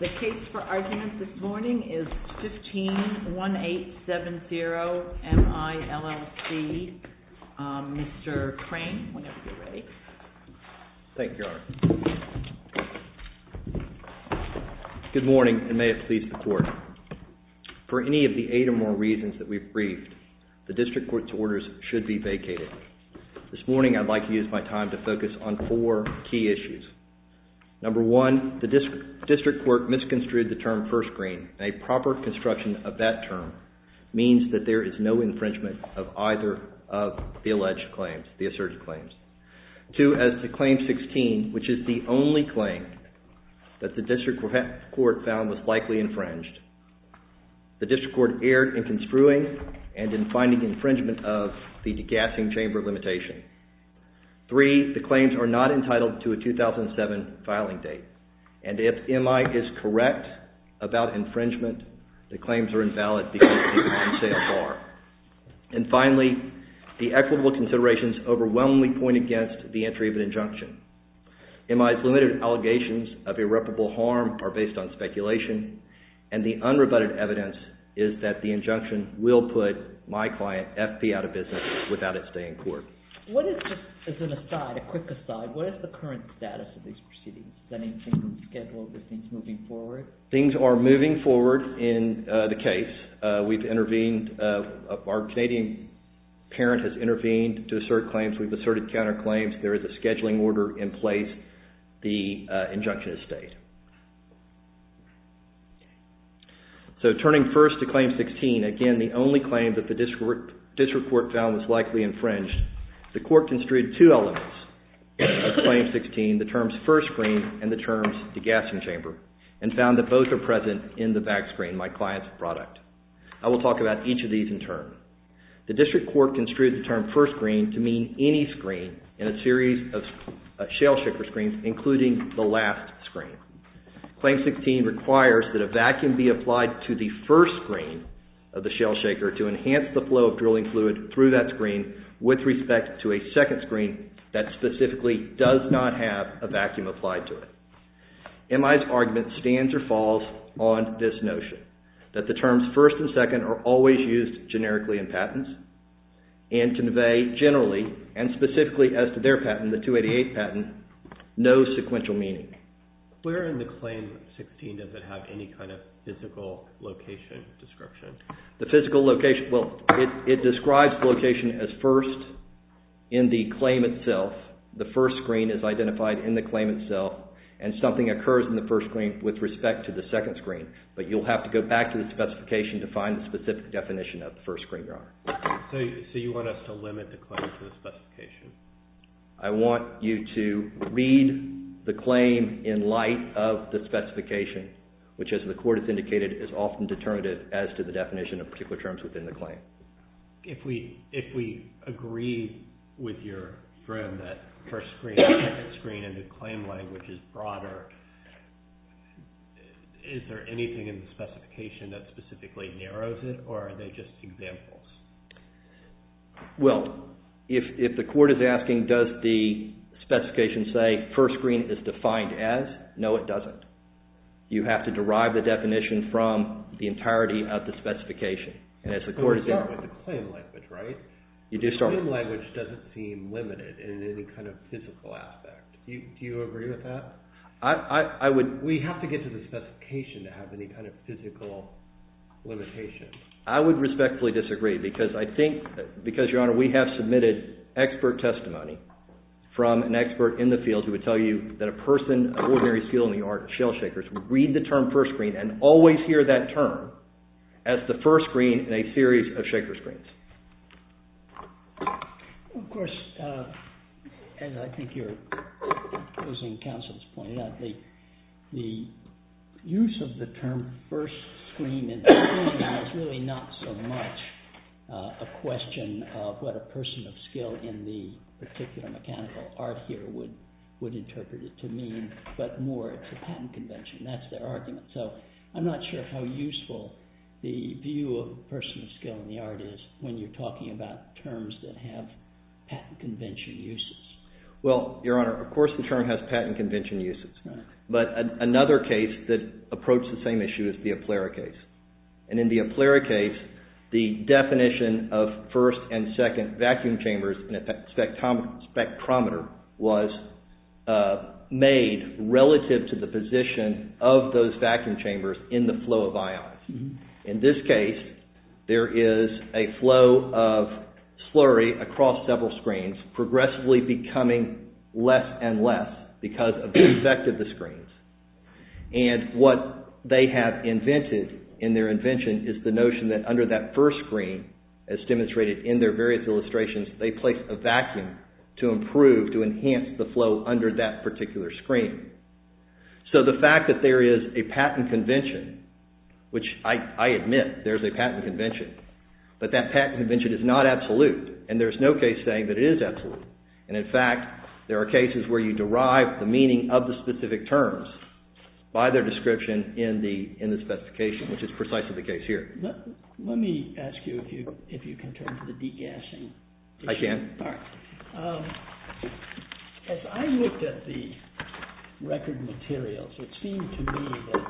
The case for arguments this morning is 15-1870-M-I-LLC. Mr. Crane, whenever you're ready. Thank you, Your Honor. Good morning, and may it please the Court. For any of the eight or more reasons that we've briefed, the District Court's orders should be vacated. This morning, I'd like to use my time to focus on four key issues. Number one, the District Court misconstrued the term first green. A proper construction of that term means that there is no infringement of either of the alleged claims, the asserted claims. Two, as to Claim 16, which is the only claim that the District Court found was likely infringed, the District Court erred in construing and in finding infringement of the degassing chamber limitation. Three, the claims are not entitled to a 2007 filing date, and if M-I is correct about infringement, the claims are invalid because they contain a bar. And finally, the equitable considerations overwhelmingly point against the entry of an injunction. M-I's limited allegations of irreparable harm are based on speculation, and the unrebutted evidence is that the injunction will put my client, FP, out of business without it staying in court. What is, as an aside, a quick aside, what is the current status of these proceedings? Is anything being scheduled? Are things moving forward? Things are moving forward in the case. We've intervened, our Canadian parent has intervened to assert claims. We've asserted counterclaims. There is a scheduling order in place. The injunction has stayed. So turning first to Claim 16, again the only claim that the District Court found was likely infringed, the Court construed two elements of Claim 16, the terms first screen and the terms degassing chamber, and found that both are present in the back screen, my client's product. I will talk about each of these in turn. The District Court construed the term first screen to mean any screen in a series of shell shaker screens, including the last screen. Claim 16 requires that a vacuum be applied to the first screen of the shell shaker to enhance the flow of drilling fluid through that screen with respect to a second screen that specifically does not have a vacuum applied to it. MI's argument stands or falls on this notion, that the terms first and second are always used generically in patents, and convey generally, and specifically as to their patent, the 288 patent, no sequential meaning. Where in the Claim 16 does it have any kind of physical location description? The physical location, well, it describes the location as first in the claim itself. The first screen is identified in the claim itself, and something occurs in the first screen with respect to the second screen. But you'll have to go back to the specification to find the specific definition of the first screen. So you want us to limit the claim to the specification? I want you to read the claim in light of the specification, which as the Court has indicated, is often determinative as to the definition of particular terms within the claim. If we agree with your grim that first screen, second screen, and the claim language is broader, is there anything in the specification that specifically narrows it, or are they just examples? Well, if the Court is asking does the specification say first screen is defined as, no it doesn't. You have to derive the definition from the entirety of the specification. You start with the claim language, right? The claim language doesn't seem limited in any kind of physical aspect. Do you agree with that? We have to get to the specification to have any kind of physical limitation. I would respectfully disagree, because Your Honor, we have submitted expert testimony from an expert in the field who would tell you that a person of ordinary skill in the art of shell shakers would read the term first screen and always hear that term as the first screen in a series of shaker screens. Of course, as I think your opposing counsel has pointed out, the use of the term first screen is really not so much a question of what a person of skill in the particular mechanical art here would interpret it to mean, but more it's a patent convention. That's their argument, so I'm not sure how useful the view of a person of skill in the art is when you're talking about terms that have patent convention uses. Well, Your Honor, of course the term has patent convention uses, but another case that approached the same issue is the Aplera case. And in the Aplera case, the definition of first and second vacuum chambers in a spectrometer was made relative to the position of those vacuum chambers in the flow of ions. In this case, there is a flow of slurry across several screens, progressively becoming less and less because of the effect of the screens. And what they have invented in their invention is the notion that under that first screen, as demonstrated in their various illustrations, they place a vacuum to improve, to enhance the flow under that particular screen. So the fact that there is a patent convention, which I admit there is a patent convention, but that patent convention is not absolute, and there is no case saying that it is absolute. And in fact, there are cases where you derive the meaning of the specific terms by their description in the specification, which is precisely the case here. Let me ask you if you can turn to the degassing. I can. As I looked at the record materials, it seemed to me that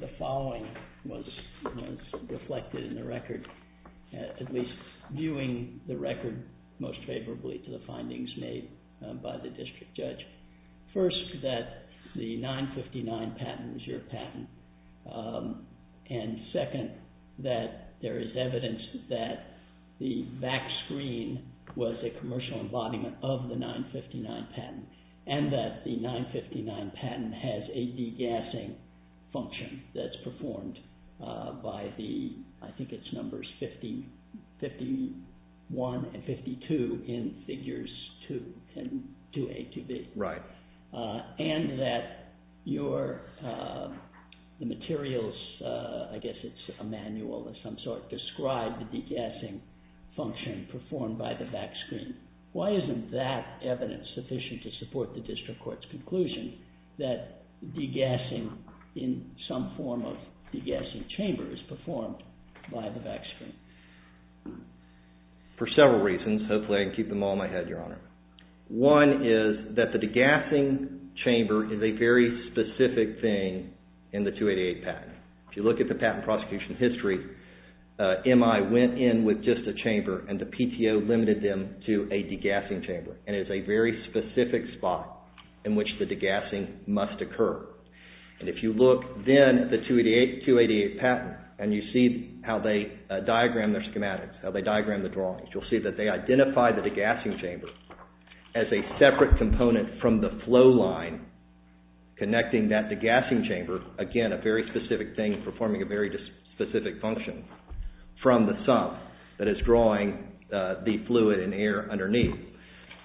the following was reflected in the record. At least viewing the record most favorably to the findings made by the district judge. First, that the 959 patent is your patent, and second, that there is evidence that the back screen was a commercial embodiment of the 959 patent, and that the 959 patent has a degassing function that's performed by the, I think it's numbers 51 and 52 in figures 2A, 2B. Right. And that your, the materials, I guess it's a manual of some sort, describe the degassing function performed by the back screen. Why isn't that evidence sufficient to support the district court's conclusion that degassing in some form of degassing chamber is performed by the back screen? For several reasons, hopefully I can keep them all in my head, Your Honor. One is that the degassing chamber is a very specific thing in the 288 patent. If you look at the patent prosecution history, MI went in with just a chamber, and the PTO limited them to a degassing chamber. And it's a very specific spot in which the degassing must occur. And if you look then at the 288 patent, and you see how they diagram their schematics, how they diagram the drawings, you'll see that they identify the degassing chamber as a separate component from the flow line connecting that degassing chamber, again, a very specific thing performing a very specific function, from the sump that is drawing the fluid and air underneath.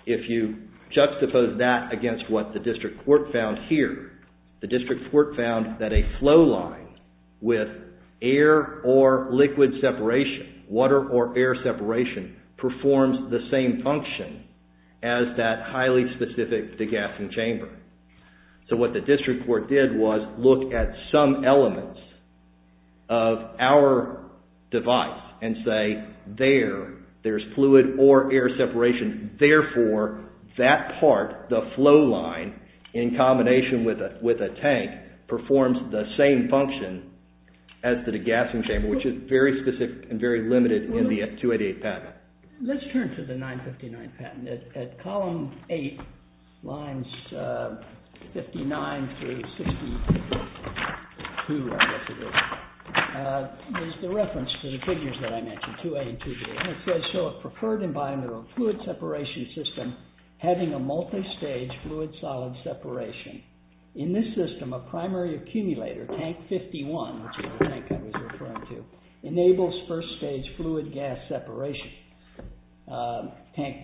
If you juxtapose that against what the district court found here, the district court found that a flow line with air or liquid separation, water or air separation, performs the same function as that highly specific degassing chamber. So what the district court did was look at some elements of our device and say, there, there's fluid or air separation, therefore, that part, the flow line, in combination with a tank, performs the same function as the degassing chamber, which is very specific and very limited in the 288 patent. Let's turn to the 959 patent. At column 8, lines 59 through 62, I guess it is, is the reference to the figures that I mentioned, 2A and 2B. And it says, so a preferred environmental fluid separation system having a multistage fluid solid separation. In this system, a primary accumulator, tank 51, which is the tank I was referring to, enables first stage fluid gas separation. Tank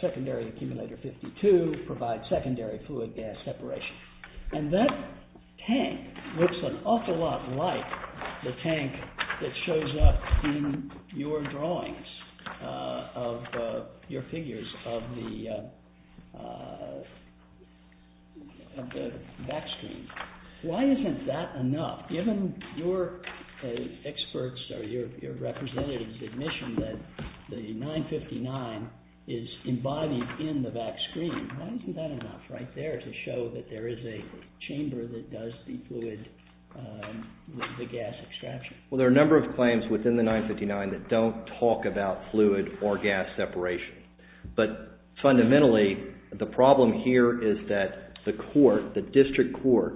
secondary accumulator 52 provides secondary fluid gas separation. And that tank looks an awful lot like the tank that shows up in your drawings of your figures of the back screen. Why isn't that enough? Given your experts or your representative's admission that the 959 is embodied in the back screen, why isn't that enough right there to show that there is a chamber that does the fluid, the gas extraction? Well, there are a number of claims within the 959 that don't talk about fluid or gas separation. But fundamentally, the problem here is that the court, the district court,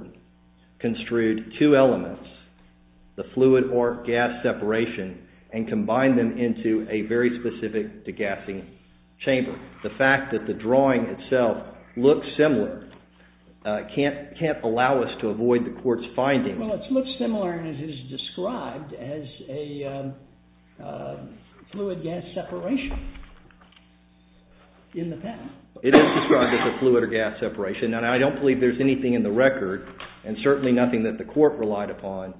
construed two elements, the fluid or gas separation, and combined them into a very specific degassing chamber. The fact that the drawing itself looks similar can't allow us to avoid the court's finding. Well, it looks similar, and it is described as a fluid gas separation in the patent. It is described as a fluid or gas separation. Now, I don't believe there's anything in the record, and certainly nothing that the court relied upon,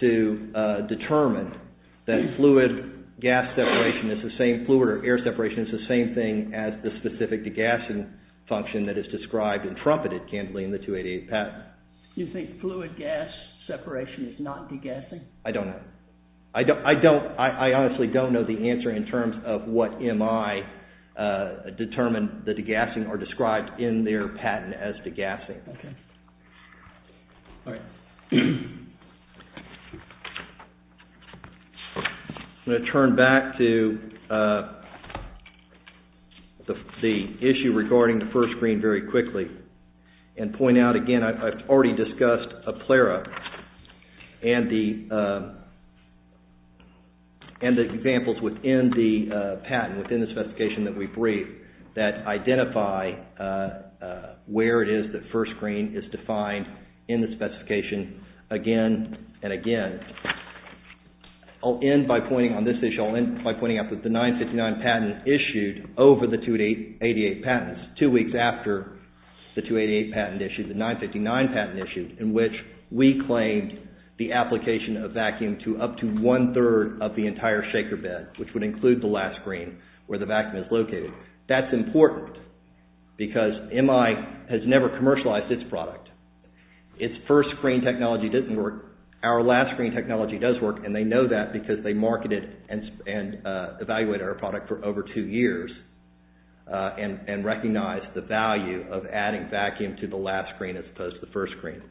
to determine that fluid gas separation is the same fluid or air separation is the same thing as the specific degassing function that is described and trumpeted, can't blame the 288 patent. You think fluid gas separation is not degassing? I don't know. I honestly don't know the answer in terms of what MI determined the degassing or described in their patent as degassing. I'm going to turn back to the issue regarding the first screen very quickly and point out again, I've already discussed a plera and the examples within the patent, within this investigation that we've briefed, that identify where it is that first screen is defined in the specification again and again. I'll end by pointing out that the 959 patent issued over the 288 patents, two weeks after the 288 patent issued, the 959 patent issued, in which we claimed the application of vacuum to up to one third of the entire shaker bed, which would include the last screen where the vacuum is located. That's important because MI has never commercialized its product. Its first screen technology didn't work, our last screen technology does work, and they know that because they marketed and evaluated our product for over two years and recognized the value of adding vacuum to the last screen as opposed to the first screen.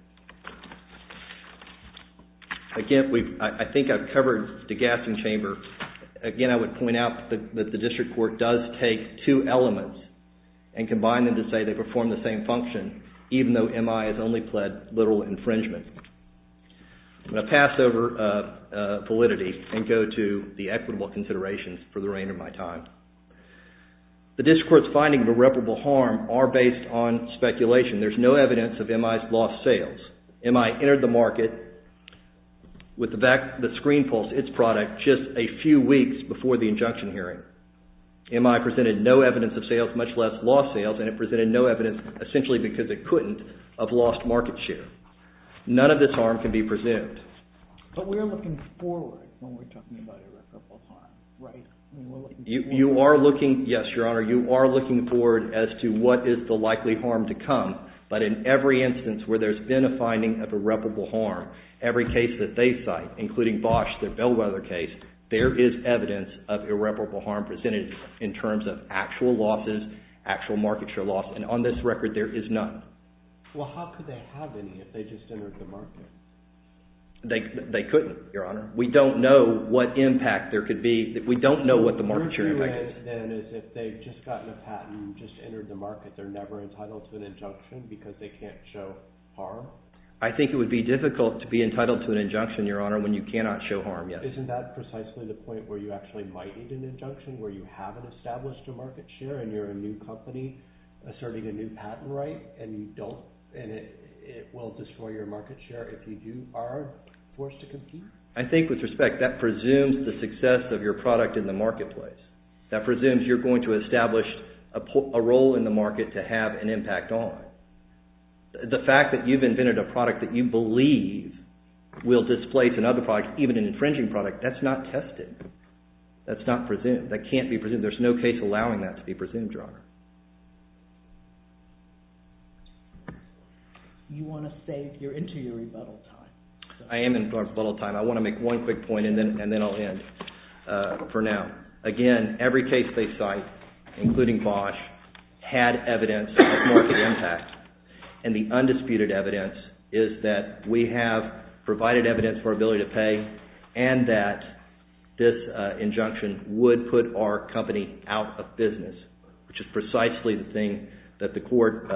Again, I think I've covered degassing chamber. Again, I would point out that the district court does take two elements and combine them to say they perform the same function, even though MI has only pled literal infringement. I'm going to pass over validity and go to the equitable considerations for the reign of my time. The district court's finding of irreparable harm are based on speculation. There's no evidence of MI's lost sales. MI entered the market with the screen pulse, its product, just a few weeks before the injunction hearing. MI presented no evidence of sales, much less lost sales, and it presented no evidence, essentially because it couldn't, of lost market share. None of this harm can be presumed. But we're looking forward when we're talking about irreparable harm, right? You are looking, yes, Your Honor, you are looking forward as to what is the likely harm to come. But in every instance where there's been a finding of irreparable harm, every case that they cite, including Bosch, the Bellwether case, there is evidence of irreparable harm presented in terms of actual losses, actual market share loss. And on this record, there is none. Well, how could they have any if they just entered the market? They couldn't, Your Honor. We don't know what impact there could be. We don't know what the market share impact is. Your view is, then, is if they've just gotten a patent and just entered the market, they're never entitled to an injunction because they can't show harm? I think it would be difficult to be entitled to an injunction, Your Honor, when you cannot show harm, yes. Isn't that precisely the point where you actually might need an injunction, where you haven't established a market share, and you're a new company asserting a new patent right, and it will destroy your market share if you are forced to compete? I think, with respect, that presumes the success of your product in the marketplace. That presumes you're going to establish a role in the market to have an impact on. The fact that you've invented a product that you believe will displace another product, even an infringing product, that's not tested. That's not presumed. That can't be presumed. There's no case allowing that to be presumed, Your Honor. You want to say you're into your rebuttal time. I am in rebuttal time. I want to make one quick point, and then I'll end for now. Again, every case they cite, including Bosch, had evidence of market impact, and the undisputed evidence is that we have provided evidence for ability to pay and that this injunction would put our company out of business, which is precisely the thing that the court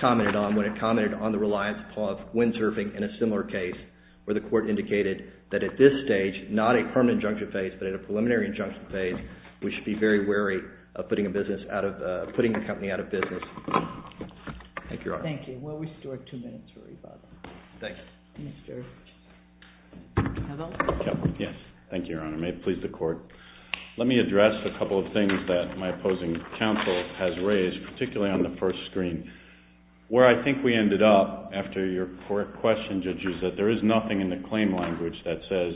commented on when it commented on the reliance upon windsurfing in a similar case, where the court indicated that at this stage, not a permanent injunction phase, but at a preliminary injunction phase, we should be very wary of putting the company out of business. Thank you, Your Honor. Thank you. We'll restore two minutes for rebuttal. Thanks. Mr. Cavill? Thank you, Your Honor. May it please the Court. Let me address a couple of things that my opposing counsel has raised, particularly on the first screen. Where I think we ended up, after your question, Judge, is that there is nothing in the claim language that says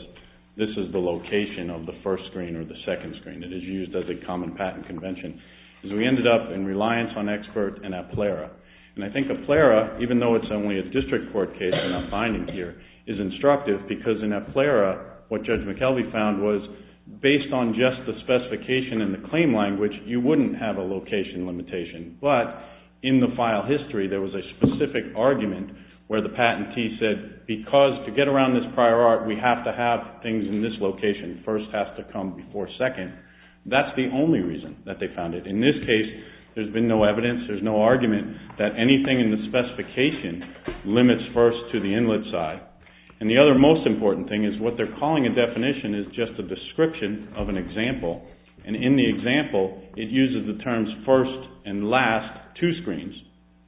this is the location of the first screen or the second screen. It is used as a common patent convention. We ended up in reliance on expert in a plera. And I think a plera, even though it's only a district court case that I'm finding here, is instructive because in a plera, what Judge McKelvey found was, based on just the specification in the claim language, you wouldn't have a location limitation. But in the file history, there was a specific argument where the patentee said, because to get around this prior art, we have to have things in this location. First has to come before second. That's the only reason that they found it. In this case, there's been no evidence. There's no argument that anything in the specification limits first to the inlet side. And the other most important thing is what they're calling a definition is just a description of an example. And in the example, it uses the terms first and last, two screens,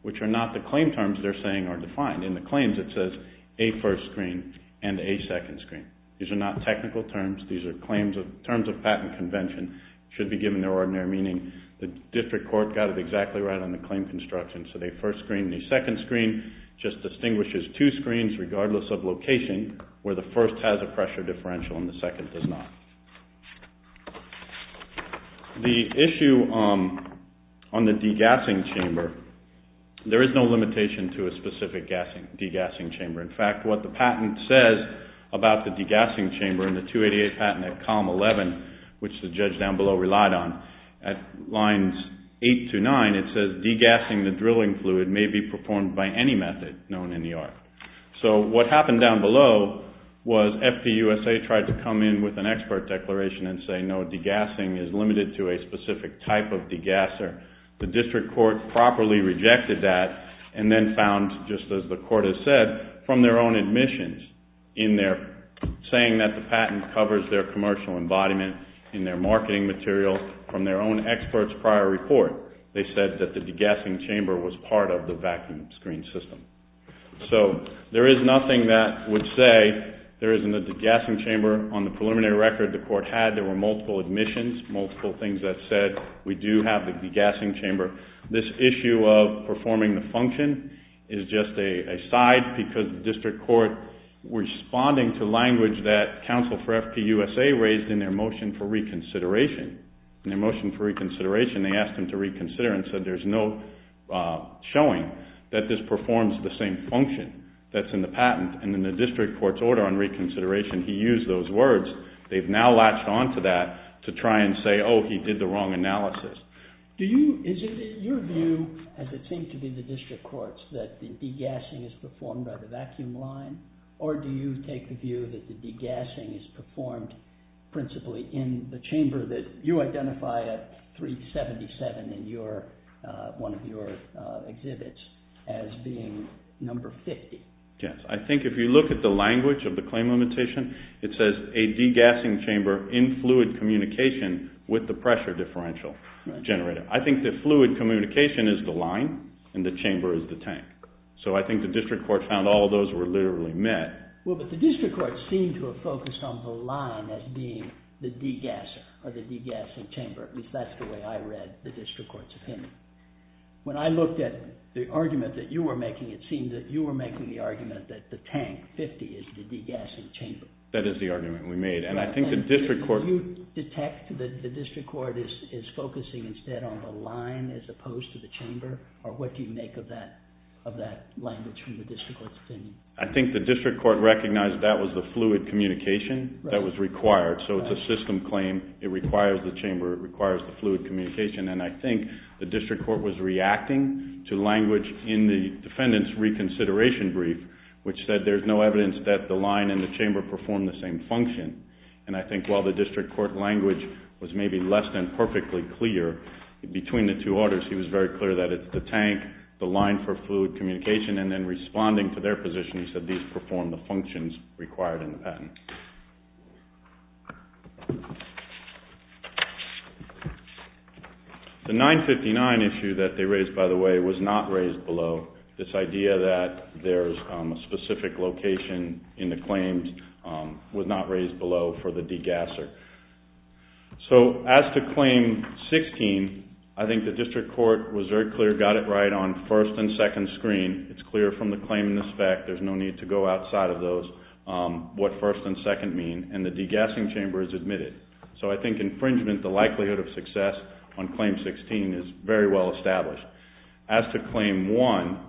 which are not the claim terms they're saying are defined. In the claims, it says a first screen and a second screen. These are not technical terms. These are terms of patent convention. It should be given their ordinary meaning. The district court got it exactly right on the claim construction. So they first screened the second screen. It just distinguishes two screens, regardless of location, where the first has a pressure differential and the second does not. The issue on the degassing chamber, there is no limitation to a specific degassing chamber. In fact, what the patent says about the degassing chamber in the 288 patent at column 11, which the judge down below relied on, at lines 8 to 9, it says degassing the drilling fluid may be performed by any method known in the art. So what happened down below was FPUSA tried to come in with an expert declaration and say, no, degassing is limited to a specific type of degasser. The district court properly rejected that and then found, just as the court has said, from their own admissions in their saying that the patent covers their commercial embodiment in their marketing material from their own expert's prior report, they said that the degassing chamber was part of the vacuum screen system. So there is nothing that would say there isn't a degassing chamber. On the preliminary record the court had, there were multiple admissions, multiple things that said we do have the degassing chamber. This issue of performing the function is just a side because the district court, responding to language that counsel for FPUSA raised in their motion for reconsideration, in their motion for reconsideration they asked him to reconsider and said there's no showing that this performs the same function that's in the patent. And in the district court's order on reconsideration he used those words. They've now latched onto that to try and say, oh, he did the wrong analysis. Do you, is it your view, as it seems to be the district court's, that the degassing is performed by the vacuum line or do you take the view that the degassing is performed principally in the chamber that you identify at 377 in your, one of your exhibits as being number 50? Yes, I think if you look at the language of the claim limitation, it says a degassing chamber in fluid communication with the pressure differential generator. I think the fluid communication is the line and the chamber is the tank. So I think the district court found all of those were literally met. Well, but the district court seemed to have focused on the line as being the degasser or the degassing chamber, at least that's the way I read the district court's opinion. When I looked at the argument that you were making, it seemed that you were making the argument that the tank, 50, is the degassing chamber. That is the argument we made and I think the district court. Do you detect that the district court is focusing instead on the line as opposed to the chamber or what do you make of that, of that language from the district court's opinion? I think the district court recognized that was the fluid communication that was required. So it's a system claim, it requires the chamber, it requires the fluid communication and I think the district court was reacting to language in the defendant's reconsideration brief which said there's no evidence that the line and the chamber perform the same function. And I think while the district court language was maybe less than perfectly clear between the two orders, he was very clear that it's the tank, the line for fluid communication, and then responding to their position, he said these perform the functions required in the patent. The 959 issue that they raised, by the way, was not raised below. This idea that there's a specific location in the claims was not raised below for the degasser. So as to claim 16, I think the district court was very clear, got it right on first and second screen. It's clear from the claim in the spec, there's no need to go outside of those, what first and second mean and the degassing chamber is admitted. So I think infringement, the likelihood of success on claim 16 is very well established. As to claim 1,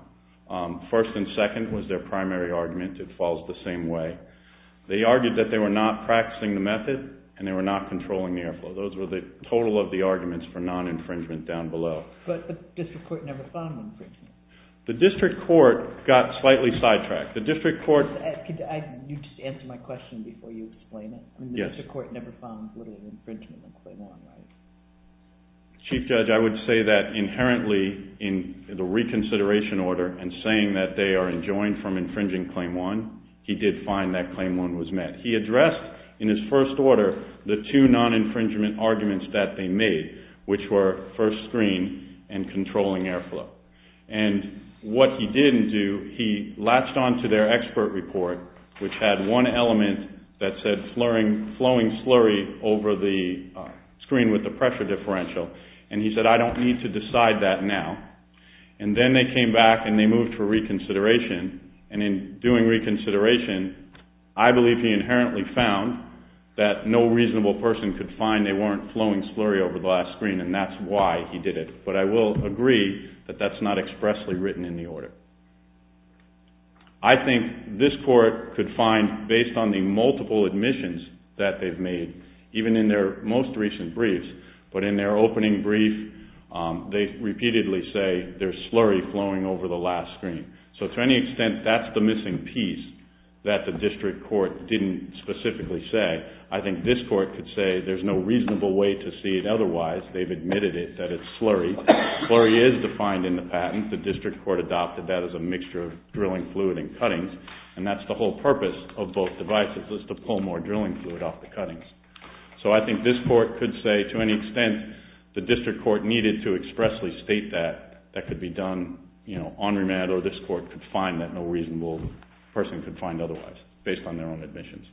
first and second was their primary argument, it falls the same way. They argued that they were not practicing the method and they were not controlling the air flow. Those were the total of the arguments for non-infringement down below. But the district court never found infringement. The district court got slightly sidetracked. The district court... Can you just answer my question before you explain it? Yes. The district court never found literally infringement on claim 1, right? Chief Judge, I would say that inherently in the reconsideration order and saying that they are enjoined from infringing claim 1, he did find that claim 1 was met. He addressed in his first order the two non-infringement arguments that they made, which were first screen and controlling air flow. And what he didn't do, he latched on to their expert report, which had one element that said flowing slurry over the screen with the pressure differential. And he said, I don't need to decide that now. And then they came back and they moved for reconsideration. And in doing reconsideration, I believe he inherently found that no reasonable person could find they weren't flowing slurry over the last screen and that's why he did it. But I will agree that that's not expressly written in the order. I think this court could find, based on the multiple admissions that they've made, even in their most recent briefs, but in their opening brief, they repeatedly say there's slurry flowing over the last screen. So to any extent, that's the missing piece that the district court didn't specifically say. I think this court could say there's no reasonable way to see it otherwise. They've admitted it, that it's slurry. Slurry is defined in the patent. The district court adopted that as a mixture of drilling fluid and cuttings, and that's the whole purpose of both devices is to pull more drilling fluid off the cuttings. So I think this court could say to any extent the district court needed to expressly state that, that could be done on remand or this court could find that no reasonable person could find otherwise based on their own admissions.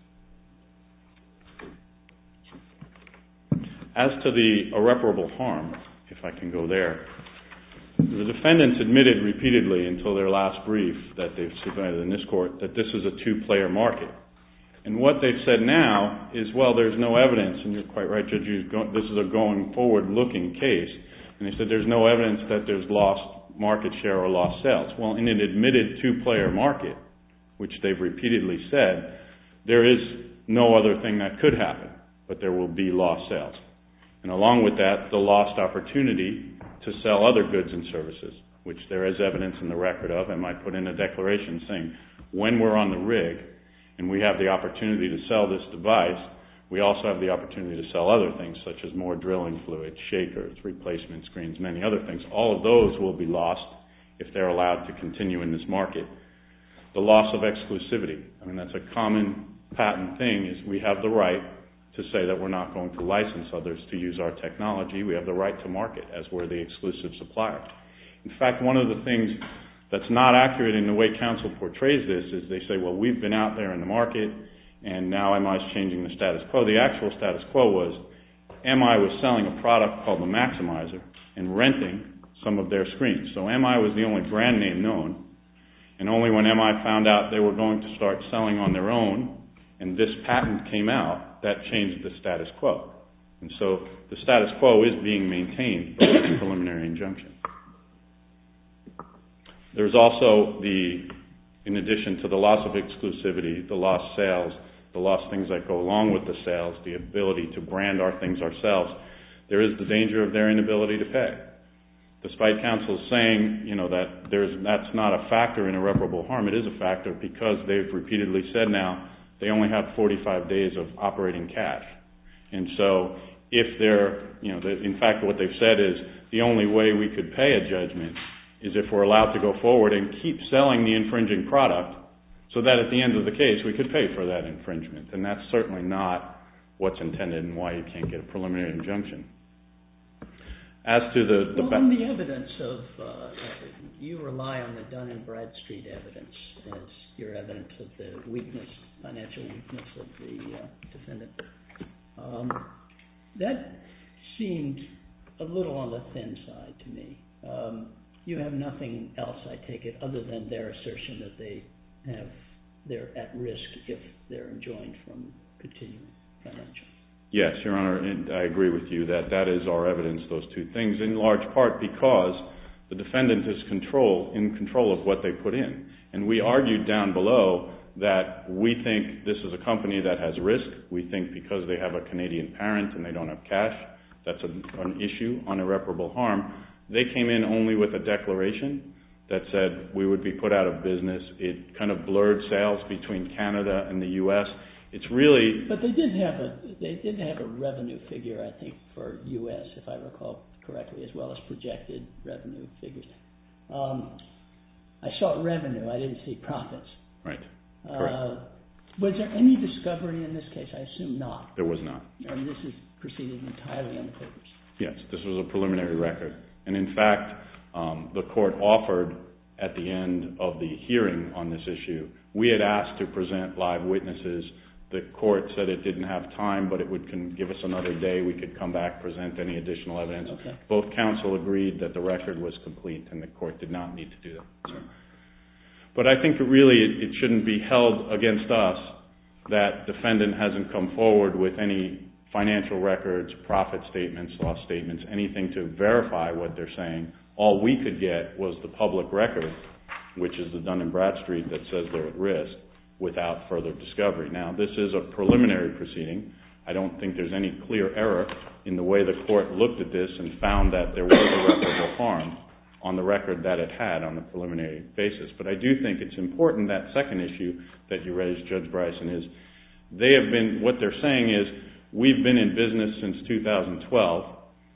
As to the irreparable harm, if I can go there, the defendants admitted repeatedly until their last brief that they've submitted in this court that this is a two-player market. And what they've said now is, well, there's no evidence, and you're quite right, Judge, this is a going-forward-looking case. And they said there's no evidence that there's lost market share or lost sales. Well, in an admitted two-player market, which they've repeatedly said, there is no other thing that could happen, but there will be lost sales. And along with that, the lost opportunity to sell other goods and services, which there is evidence in the record of, and I put in a declaration saying, when we're on the rig and we have the opportunity to sell this device, we also have the opportunity to sell other things, such as more drilling fluid, shakers, replacement screens, many other things. All of those will be lost if they're allowed to continue in this market. The loss of exclusivity, I mean, that's a common patent thing, is we have the right to say that we're not going to license others to use our technology. We have the right to market as we're the exclusive supplier. In fact, one of the things that's not accurate in the way counsel portrays this is they say, well, we've been out there in the market, and now MI is changing the status quo. The actual status quo was MI was selling a product called the Maximizer and renting some of their screens. So MI was the only brand name known. And only when MI found out they were going to start selling on their own and this patent came out, that changed the status quo. And so the status quo is being maintained by the preliminary injunction. There's also the, in addition to the loss of exclusivity, the lost sales, the lost things that go along with the sales, the ability to brand our things ourselves, there is the danger of their inability to pay. Despite counsel saying that that's not a factor in irreparable harm, it is a factor because they've repeatedly said now they only have 45 days of operating cash. And so if they're, in fact what they've said is the only way we could pay a judgment is if we're allowed to go forward and keep selling the infringing product so that at the end of the case we could pay for that infringement. And that's certainly not what's intended and why you can't get a preliminary injunction. As to the... Well, in the evidence of, you rely on the Dun & Bradstreet evidence as your evidence of the weakness, financial weakness of the defendant. That seemed a little on the thin side to me. You have nothing else, I take it, other than their assertion that they have, they're at risk if they're enjoined from continuing financial... Yes, Your Honor, and I agree with you that that is our evidence, those two things, in large part because the defendant is in control of what they put in. And we argued down below that we think this is a company that has risk. We think because they have a Canadian parent and they don't have cash, that's an issue on irreparable harm. They came in only with a declaration that said we would be put out of business. It kind of blurred sales between Canada and the U.S. But they did have a revenue figure, I think, for U.S., if I recall correctly, as well as projected revenue figures. I saw revenue, I didn't see profits. Right, correct. Was there any discovery in this case? I assume not. There was not. And this is preceded entirely on the papers. Yes, this was a preliminary record. And in fact, the court offered at the end of the hearing on this issue, we had asked to present live witnesses. The court said it didn't have time, but it would give us another day, we could come back, present any additional evidence. Both counsel agreed that the record was complete, and the court did not need to do that. But I think really it shouldn't be held against us that defendant hasn't come forward with any financial records, profit statements, loss statements, anything to verify what they're saying. All we could get was the public record, which is the Dun & Bradstreet that says they're at risk, without further discovery. Now, this is a preliminary proceeding. I don't think there's any clear error in the way the court looked at this and found that there was a record of harm on the record that it had on a preliminary basis. But I do think it's important, that second issue that you raised, Judge Bryson, is they have been, what they're saying is we've been in business since 2012,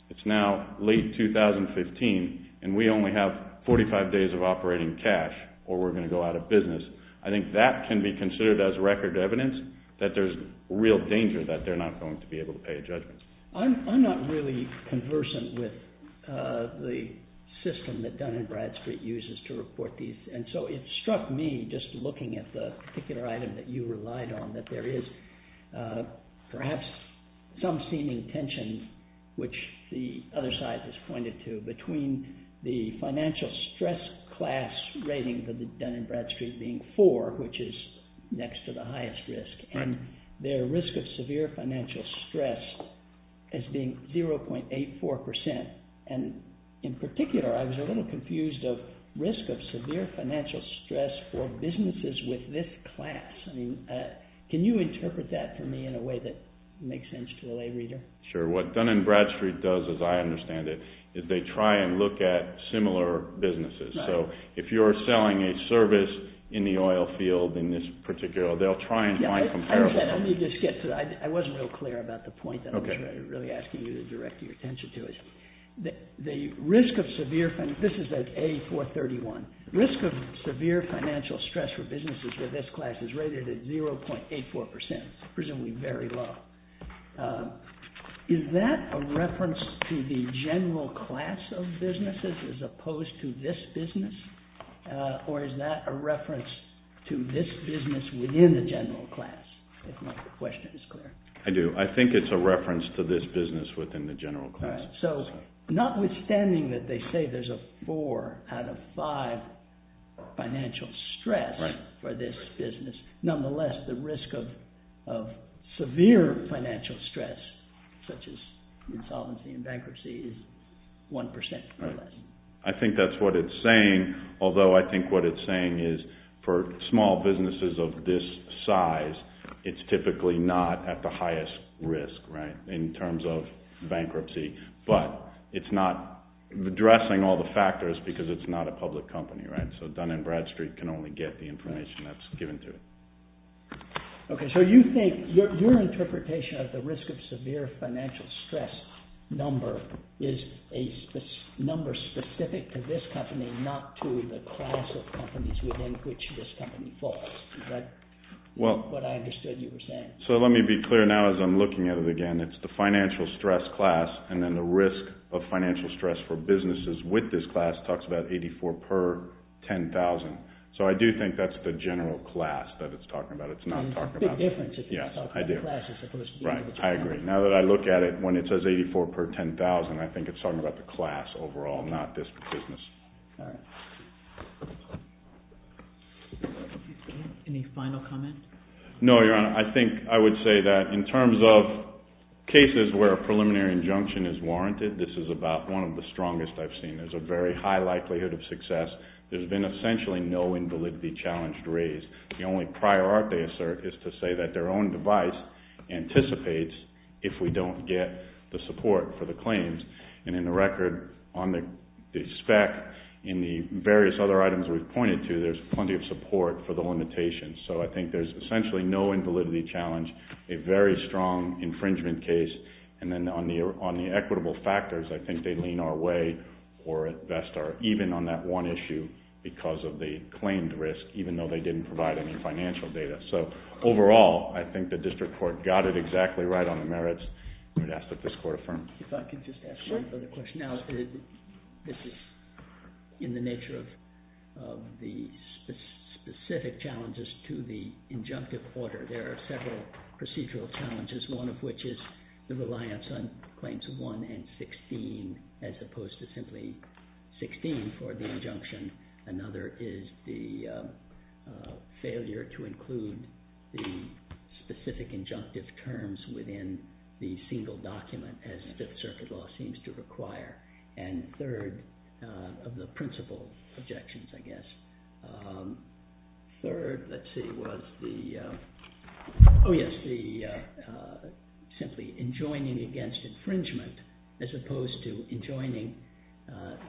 it's now late 2015, and we only have 45 days of operating cash, or we're going to go out of business. I think that can be considered as record evidence that there's real danger that they're not going to be able to pay a judgment. I'm not really conversant with the system that Dun & Bradstreet uses to report these, and so it struck me, just looking at the particular item that you relied on, that there is perhaps some seeming tension, which the other side has pointed to, between the financial stress class rating for Dun & Bradstreet being 4, which is next to the highest risk, and their risk of severe financial stress as being 0.84%, and in particular I was a little confused of risk of severe financial stress for businesses with this class. Can you interpret that for me in a way that makes sense to the lay reader? Sure. What Dun & Bradstreet does, as I understand it, is they try and look at similar businesses. So if you're selling a service in the oil field in this particular, they'll try and find comparable. I understand. I need to skip, because I wasn't real clear about the point that I was really asking you to direct your attention to. The risk of severe, this is at A431, risk of severe financial stress for businesses with this class is rated at 0.84%, presumably very low. Is that a reference to the general class of businesses as opposed to this business, or is that a reference to this business within the general class, if my question is clear? I do. I think it's a reference to this business within the general class. Notwithstanding that they say there's a 4 out of 5 financial stress for this business, nonetheless, the risk of severe financial stress, such as insolvency and bankruptcy, is 1% or less. I think that's what it's saying, although I think what it's saying is for small businesses of this size, it's typically not at the highest risk in terms of bankruptcy, but it's not addressing all the factors because it's not a public company. So Dun & Bradstreet can only get the information that's given to it. So you think your interpretation of the risk of severe financial stress number is a number specific to this company, not to the class of companies within which this company falls. Is that what I understood you were saying? So let me be clear now as I'm looking at it again. It's the financial stress class, and then the risk of financial stress for businesses with this class talks about 84 per 10,000. So I do think that's the general class that it's talking about. It's not talking about the business. Yes, I do. Right, I agree. Now that I look at it, when it says 84 per 10,000, I think it's talking about the class overall, not this business. Any final comment? No, Your Honor. I think I would say that in terms of cases where a preliminary injunction is warranted, this is about one of the strongest I've seen. There's a very high likelihood of success. There's been essentially no invalidity challenge raised. The only prior art they assert is to say that their own device anticipates if we don't get the support for the claims. And in the record on the spec, in the various other items we've pointed to, there's plenty of support for the limitations. So I think there's essentially no invalidity challenge, a very strong infringement case. And then on the equitable factors, I think they lean our way or at best are even on that one issue because of the claimed risk, even though they didn't provide any financial data. So overall, I think the district court got it exactly right on the merits. I would ask that this court affirm. If I could just ask one further question. Now, this is in the nature of the specific challenges to the injunctive order. There are several procedural challenges, one of which is the reliance on claims 1 and 16 as opposed to simply 16 for the injunction. Another is the failure to include the specific injunctive terms within the single document as the circuit law seems to require. And third of the principal objections, I guess. Third, let's see, was the... Oh, yes, the simply enjoining against infringement as opposed to enjoining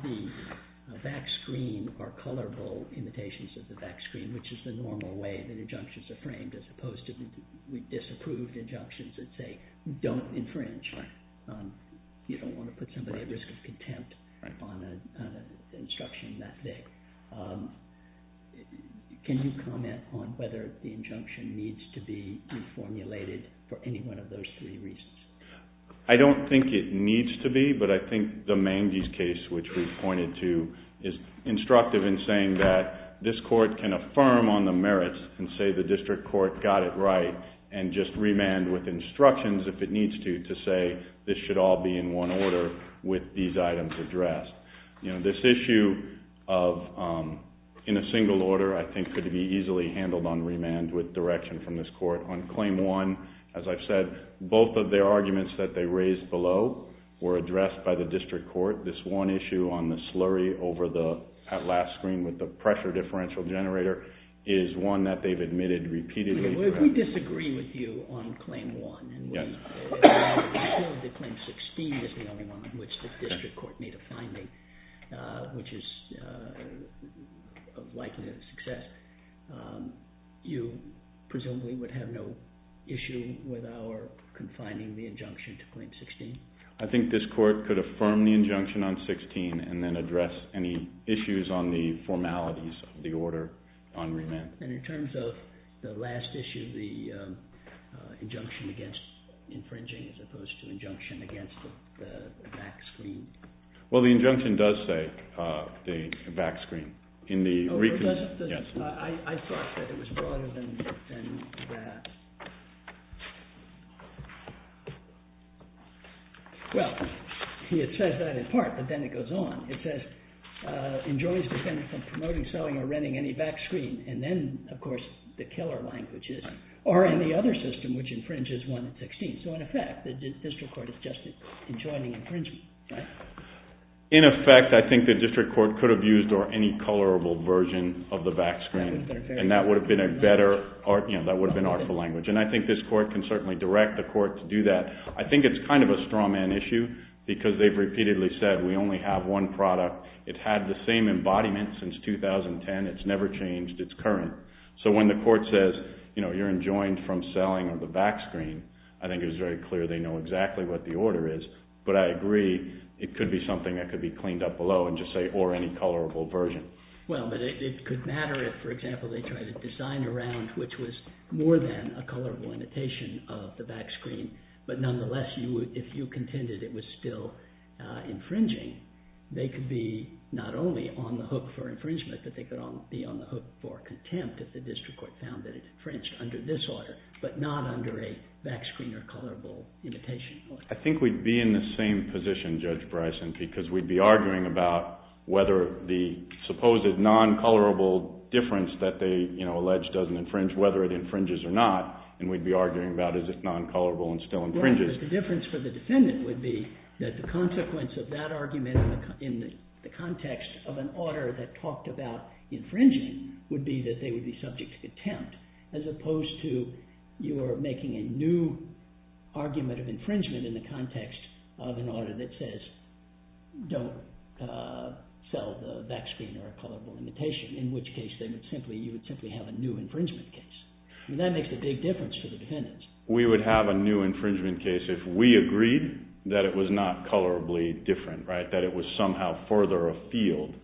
the back screen or colourable imitations of the back screen, which is the normal way that injunctions are framed as opposed to the disapproved injunctions that say don't infringe. You don't want to put somebody at risk of contempt on an instruction that big. Can you comment on whether the injunction needs to be reformulated for any one of those three reasons? I don't think it needs to be, but I think the Mangy's case, which we've pointed to, is instructive in saying that this court can affirm on the merits and say the district court got it right and just remand with instructions if it needs to to say this should all be in one order with these items addressed. This issue of in a single order, I think, could be easily handled on remand with direction from this court. On Claim 1, as I've said, both of the arguments that they raised below were addressed by the district court. This one issue on the slurry at last screen with the pressure differential generator is one that they've admitted repeatedly. If we disagree with you on Claim 1 and we feel that Claim 16 is the only one on which the district court made a finding, which is likely a success, you presumably would have no issue with our confining the injunction to Claim 16? I think this court could affirm the injunction on 16 and then address any issues on the formalities of the order on remand. And in terms of the last issue, the injunction against infringing as opposed to the injunction against the back screen? Well, the injunction does say the back screen. I thought that it was broader than that. Well, it says that in part, but then it goes on. It says, enjoys defending from promoting, selling, or renting any back screen. And then, of course, the killer language is, or any other system which infringes 1 and 16. So in effect, the district court is just enjoining infringement. In effect, I think the district court could have used any colorable version of the back screen and that would have been artful language. And I think this court can certainly direct the court to do that. I think it's kind of a strawman issue because they've repeatedly said, we only have one product. It had the same embodiment since 2010. It's never changed. It's current. So when the court says, you're enjoined from selling the back screen, I think it's very clear they know exactly what the order is. But I agree, it could be something that could be cleaned up below and just say, or any colorable version. Well, but it could matter if, for example, they tried to design a round which was more than a colorable imitation of the back screen. But nonetheless, if you contended it was still infringing, they could be not only on the hook for infringement, but they could be on the hook for contempt if the district court found that it's infringed under this order, but not under a back screen or colorable imitation. I think we'd be in the same position, Judge Bryson, because we'd be arguing about whether the supposed non-colorable difference that they allege doesn't infringe, whether it infringes or not, and we'd be arguing about is it non-colorable and still infringes. Right, but the difference for the defendant would be that the consequence of that argument in the context of an order that talked about infringing would be that they would be subject to contempt as opposed to you are making a new argument of infringement in the context of an order that says don't sell the back screen or a colorable imitation, in which case you would simply have a new infringement case. And that makes a big difference for the defendants. We would have a new infringement case if we agreed that it was not colorably different, right, that it was somehow further afield,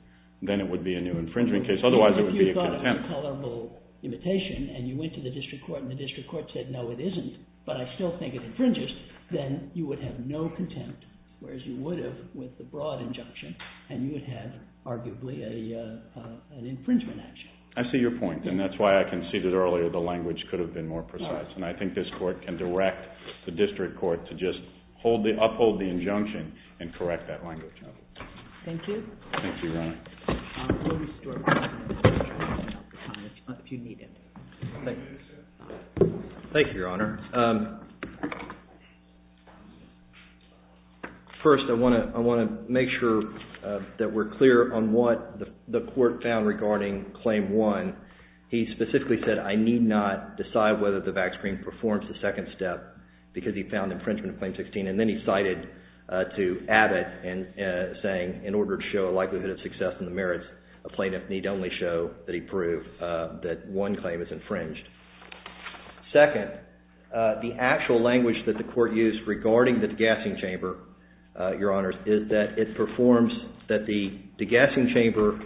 then it would be a new infringement case, otherwise it would be a contempt. If you thought it was a colorable imitation and you went to the district court and the district court said, no, it isn't, but I still think it infringes, then you would have no contempt, whereas you would have with the broad injunction and you would have arguably an infringement action. I see your point, and that's why I conceded earlier the language could have been more precise, and I think this court can direct the district court to just uphold the injunction and correct that language. Thank you. Thank you, Your Honor. I'll restore my time if you need it. Thank you, sir. Thank you, Your Honor. First, I want to make sure that we're clear on what the court found regarding Claim 1. He specifically said, I need not decide whether the back screen performs the second step, because he found infringement of Claim 16, and then he cited to Abbott saying, in order to show a likelihood of success in the merits, a plaintiff need only show that he proved that one claim is infringed. Second, the actual language that the court used regarding the degassing chamber, Your Honors, is that it performs, that the degassing chamber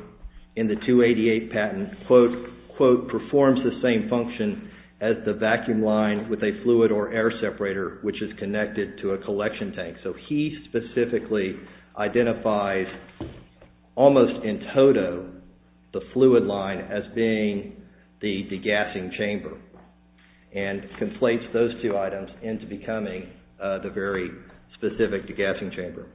in the 288 patent, quote, quote, performs the same function as the vacuum line with a fluid or air separator, which is connected to a collection tank. So he specifically identifies, almost in toto, the fluid line as being the degassing chamber, and conflates those two items into becoming the very specific degassing chamber.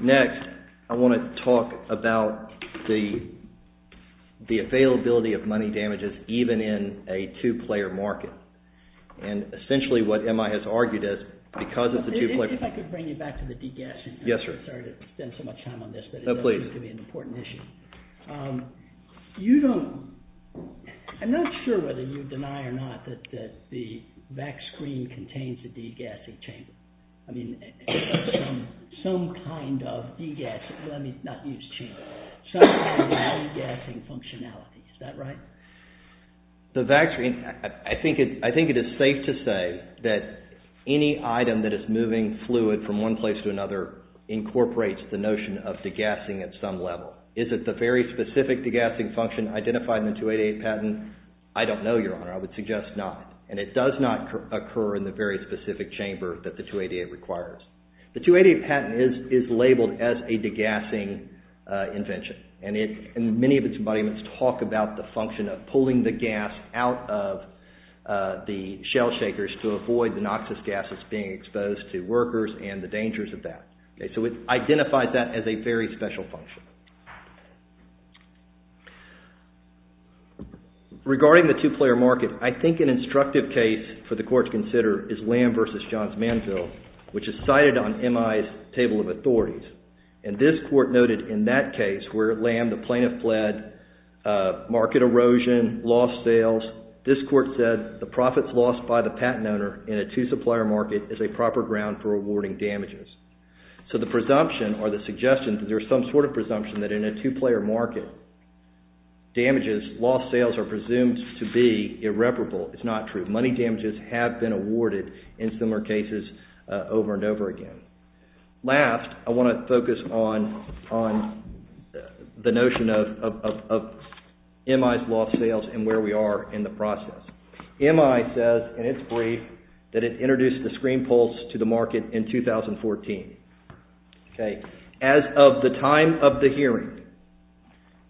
Next, I want to talk about the availability of money damages even in a two-player market. And essentially what M.I. has argued is, because of the two-player... If I could bring you back to the degassing. Yes, sir. Sorry to spend so much time on this, but it does seem to be an important issue. You don't... I'm not sure whether you deny or not that the vac screen contains the degassing chamber. I mean, some kind of degassing, let me not use chamber, some kind of degassing functionality. Is that right? The vac screen, I think it is safe to say that any item that is moving fluid from one place to another incorporates the notion of degassing at some level. Is it the very specific degassing function identified in the 288 patent? I don't know, Your Honor. I would suggest not. And it does not occur in the very specific chamber that the 288 requires. The 288 patent is labeled as a degassing invention. And many of its embodiments talk about the function of pulling the gas out of the shell shakers to avoid the noxious gases being exposed to workers and the dangers of that. So it identifies that as a very special function. Regarding the two-player market, I think an instructive case for the Court to consider is Lamb v. Johns Manville, which is cited on MI's table of authorities. And this Court noted in that case where Lamb, the plaintiff, fled, market erosion, lost sales, this Court said the profits lost by the patent owner in a two-supplier market is a proper ground for awarding damages. So the presumption or the suggestion that there's some sort of presumption that in a two-player market, damages, lost sales, are presumed to be irreparable is not true. Money damages have been awarded in similar cases over and over again. Last, I want to focus on the notion of MI's lost sales and where we are in the process. MI says, and it's brief, that it introduced the ScreenPulse to the market in 2014. As of the time of the hearing,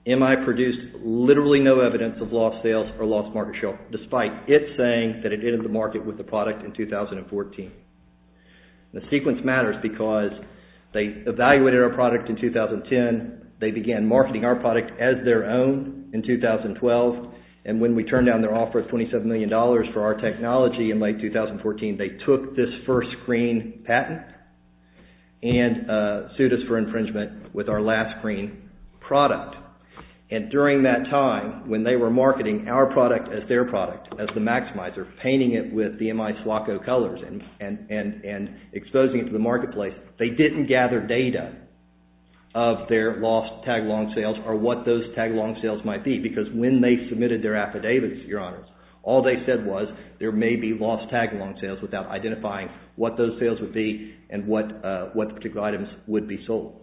MI produced literally no evidence of lost sales or lost market share, despite it saying that it entered the market with the product in 2014. The sequence matters because they evaluated our product in 2010, they began marketing our product as their own in 2012, and when we turned down their offer of $27 million for our technology in late 2014, they took this first screen patent and sued us for infringement with our last screen product. And during that time, when they were marketing our product as their product, as the Maximizer, painting it with the MI SWACO colors and exposing it to the marketplace, they didn't gather data of their lost tag-along sales or what those tag-along sales might be because when they submitted their affidavits, all they said was there may be lost tag-along sales without identifying what those sales would be and what particular items would be sold.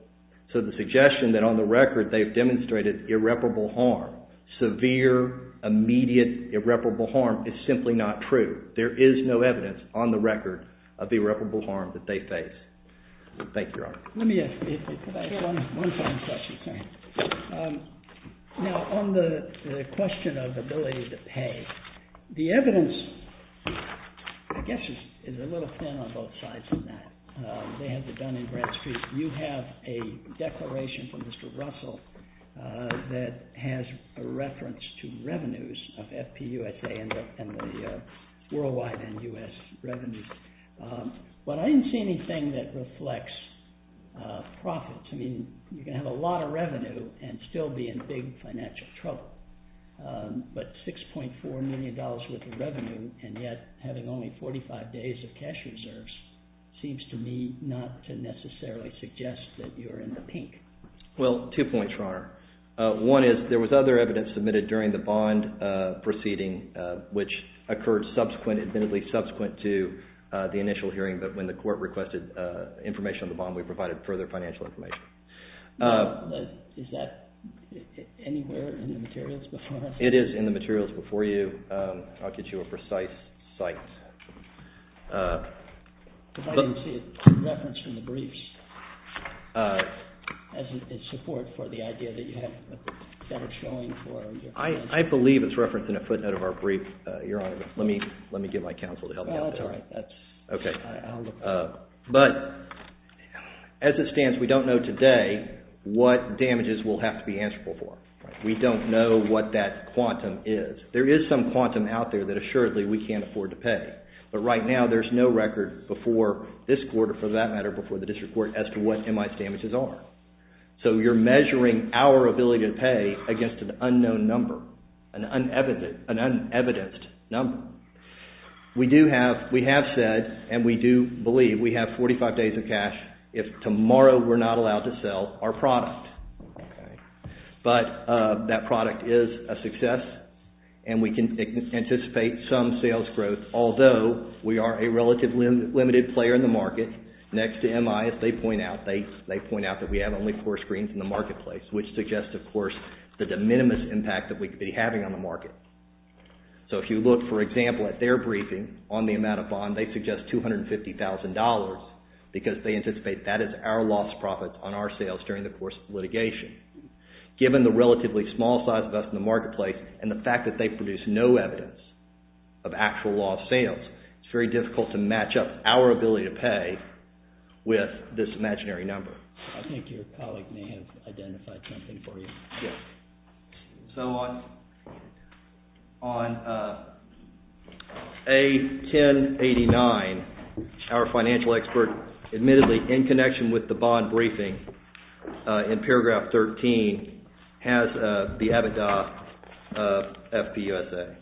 So the suggestion that on the record they've demonstrated irreparable harm, severe, immediate, irreparable harm, is simply not true. There is no evidence on the record of irreparable harm that they face. Thank you, Your Honor. Let me ask you one final question. Now, on the question of ability to pay, the evidence, I guess, is a little thin on both sides of that. They have it done in Bradstreet. You have a declaration from Mr. Russell that has a reference to revenues of FPUSA and the worldwide and U.S. revenues. But I didn't see anything that reflects profits. I mean, you can have a lot of revenue and still be in big financial trouble. But $6.4 million worth of revenue and yet having only 45 days of cash reserves seems to me not to necessarily suggest that you're in the pink. Well, two points, Your Honor. One is there was other evidence submitted during the bond proceeding which occurred subsequently, admittedly subsequent to the initial hearing, but when the court requested information on the bond, we provided further financial information. Now, is that anywhere in the materials before us? It is in the materials before you. I'll get you a precise cite. But I didn't see a reference in the briefs as a support for the idea that you have a better showing for your... I believe it's referenced in a footnote of our brief, Your Honor, but let me get my counsel to help me out. Well, that's all right. That's... Okay. But as it stands, we don't know today what damages will have to be answerable for. We don't know what that quantum is. There is some quantum out there that assuredly we can't afford to pay. But right now, there's no record before this court or for that matter before the district court as to what MI's damages are. So you're measuring our ability to pay against an unknown number, an unevidenced number. We do have... We have said and we do believe we have 45 days of cash if tomorrow we're not allowed to sell our product. Okay. But that product is a success and we can anticipate some sales growth although we are a relatively limited player in the market. Next to MI, if they point out, they point out that we have only four screens in the marketplace, which suggests, of course, the de minimis impact that we could be having on the market. So if you look, for example, at their briefing on the amount of bond, they suggest $250,000 because they anticipate that is our loss profit on our sales during the course of litigation. Given the relatively small size of us in the marketplace and the fact that they produce no evidence of actual lost sales, it's very difficult to match up our ability to pay with this imaginary number. I think your colleague may have identified something for you. Yes. So on A1089, our financial expert admittedly in connection with the bond briefing in paragraph 13 has the EBITDA of FPUSA.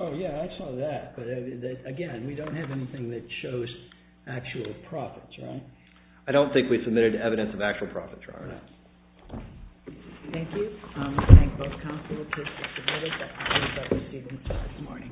Oh, yeah, I saw that. But again, we don't have anything that shows actual profits, right? I don't think we submitted evidence of actual profits, Your Honor. Thank you. I thank both counsel for participating. That concludes our proceedings for this morning.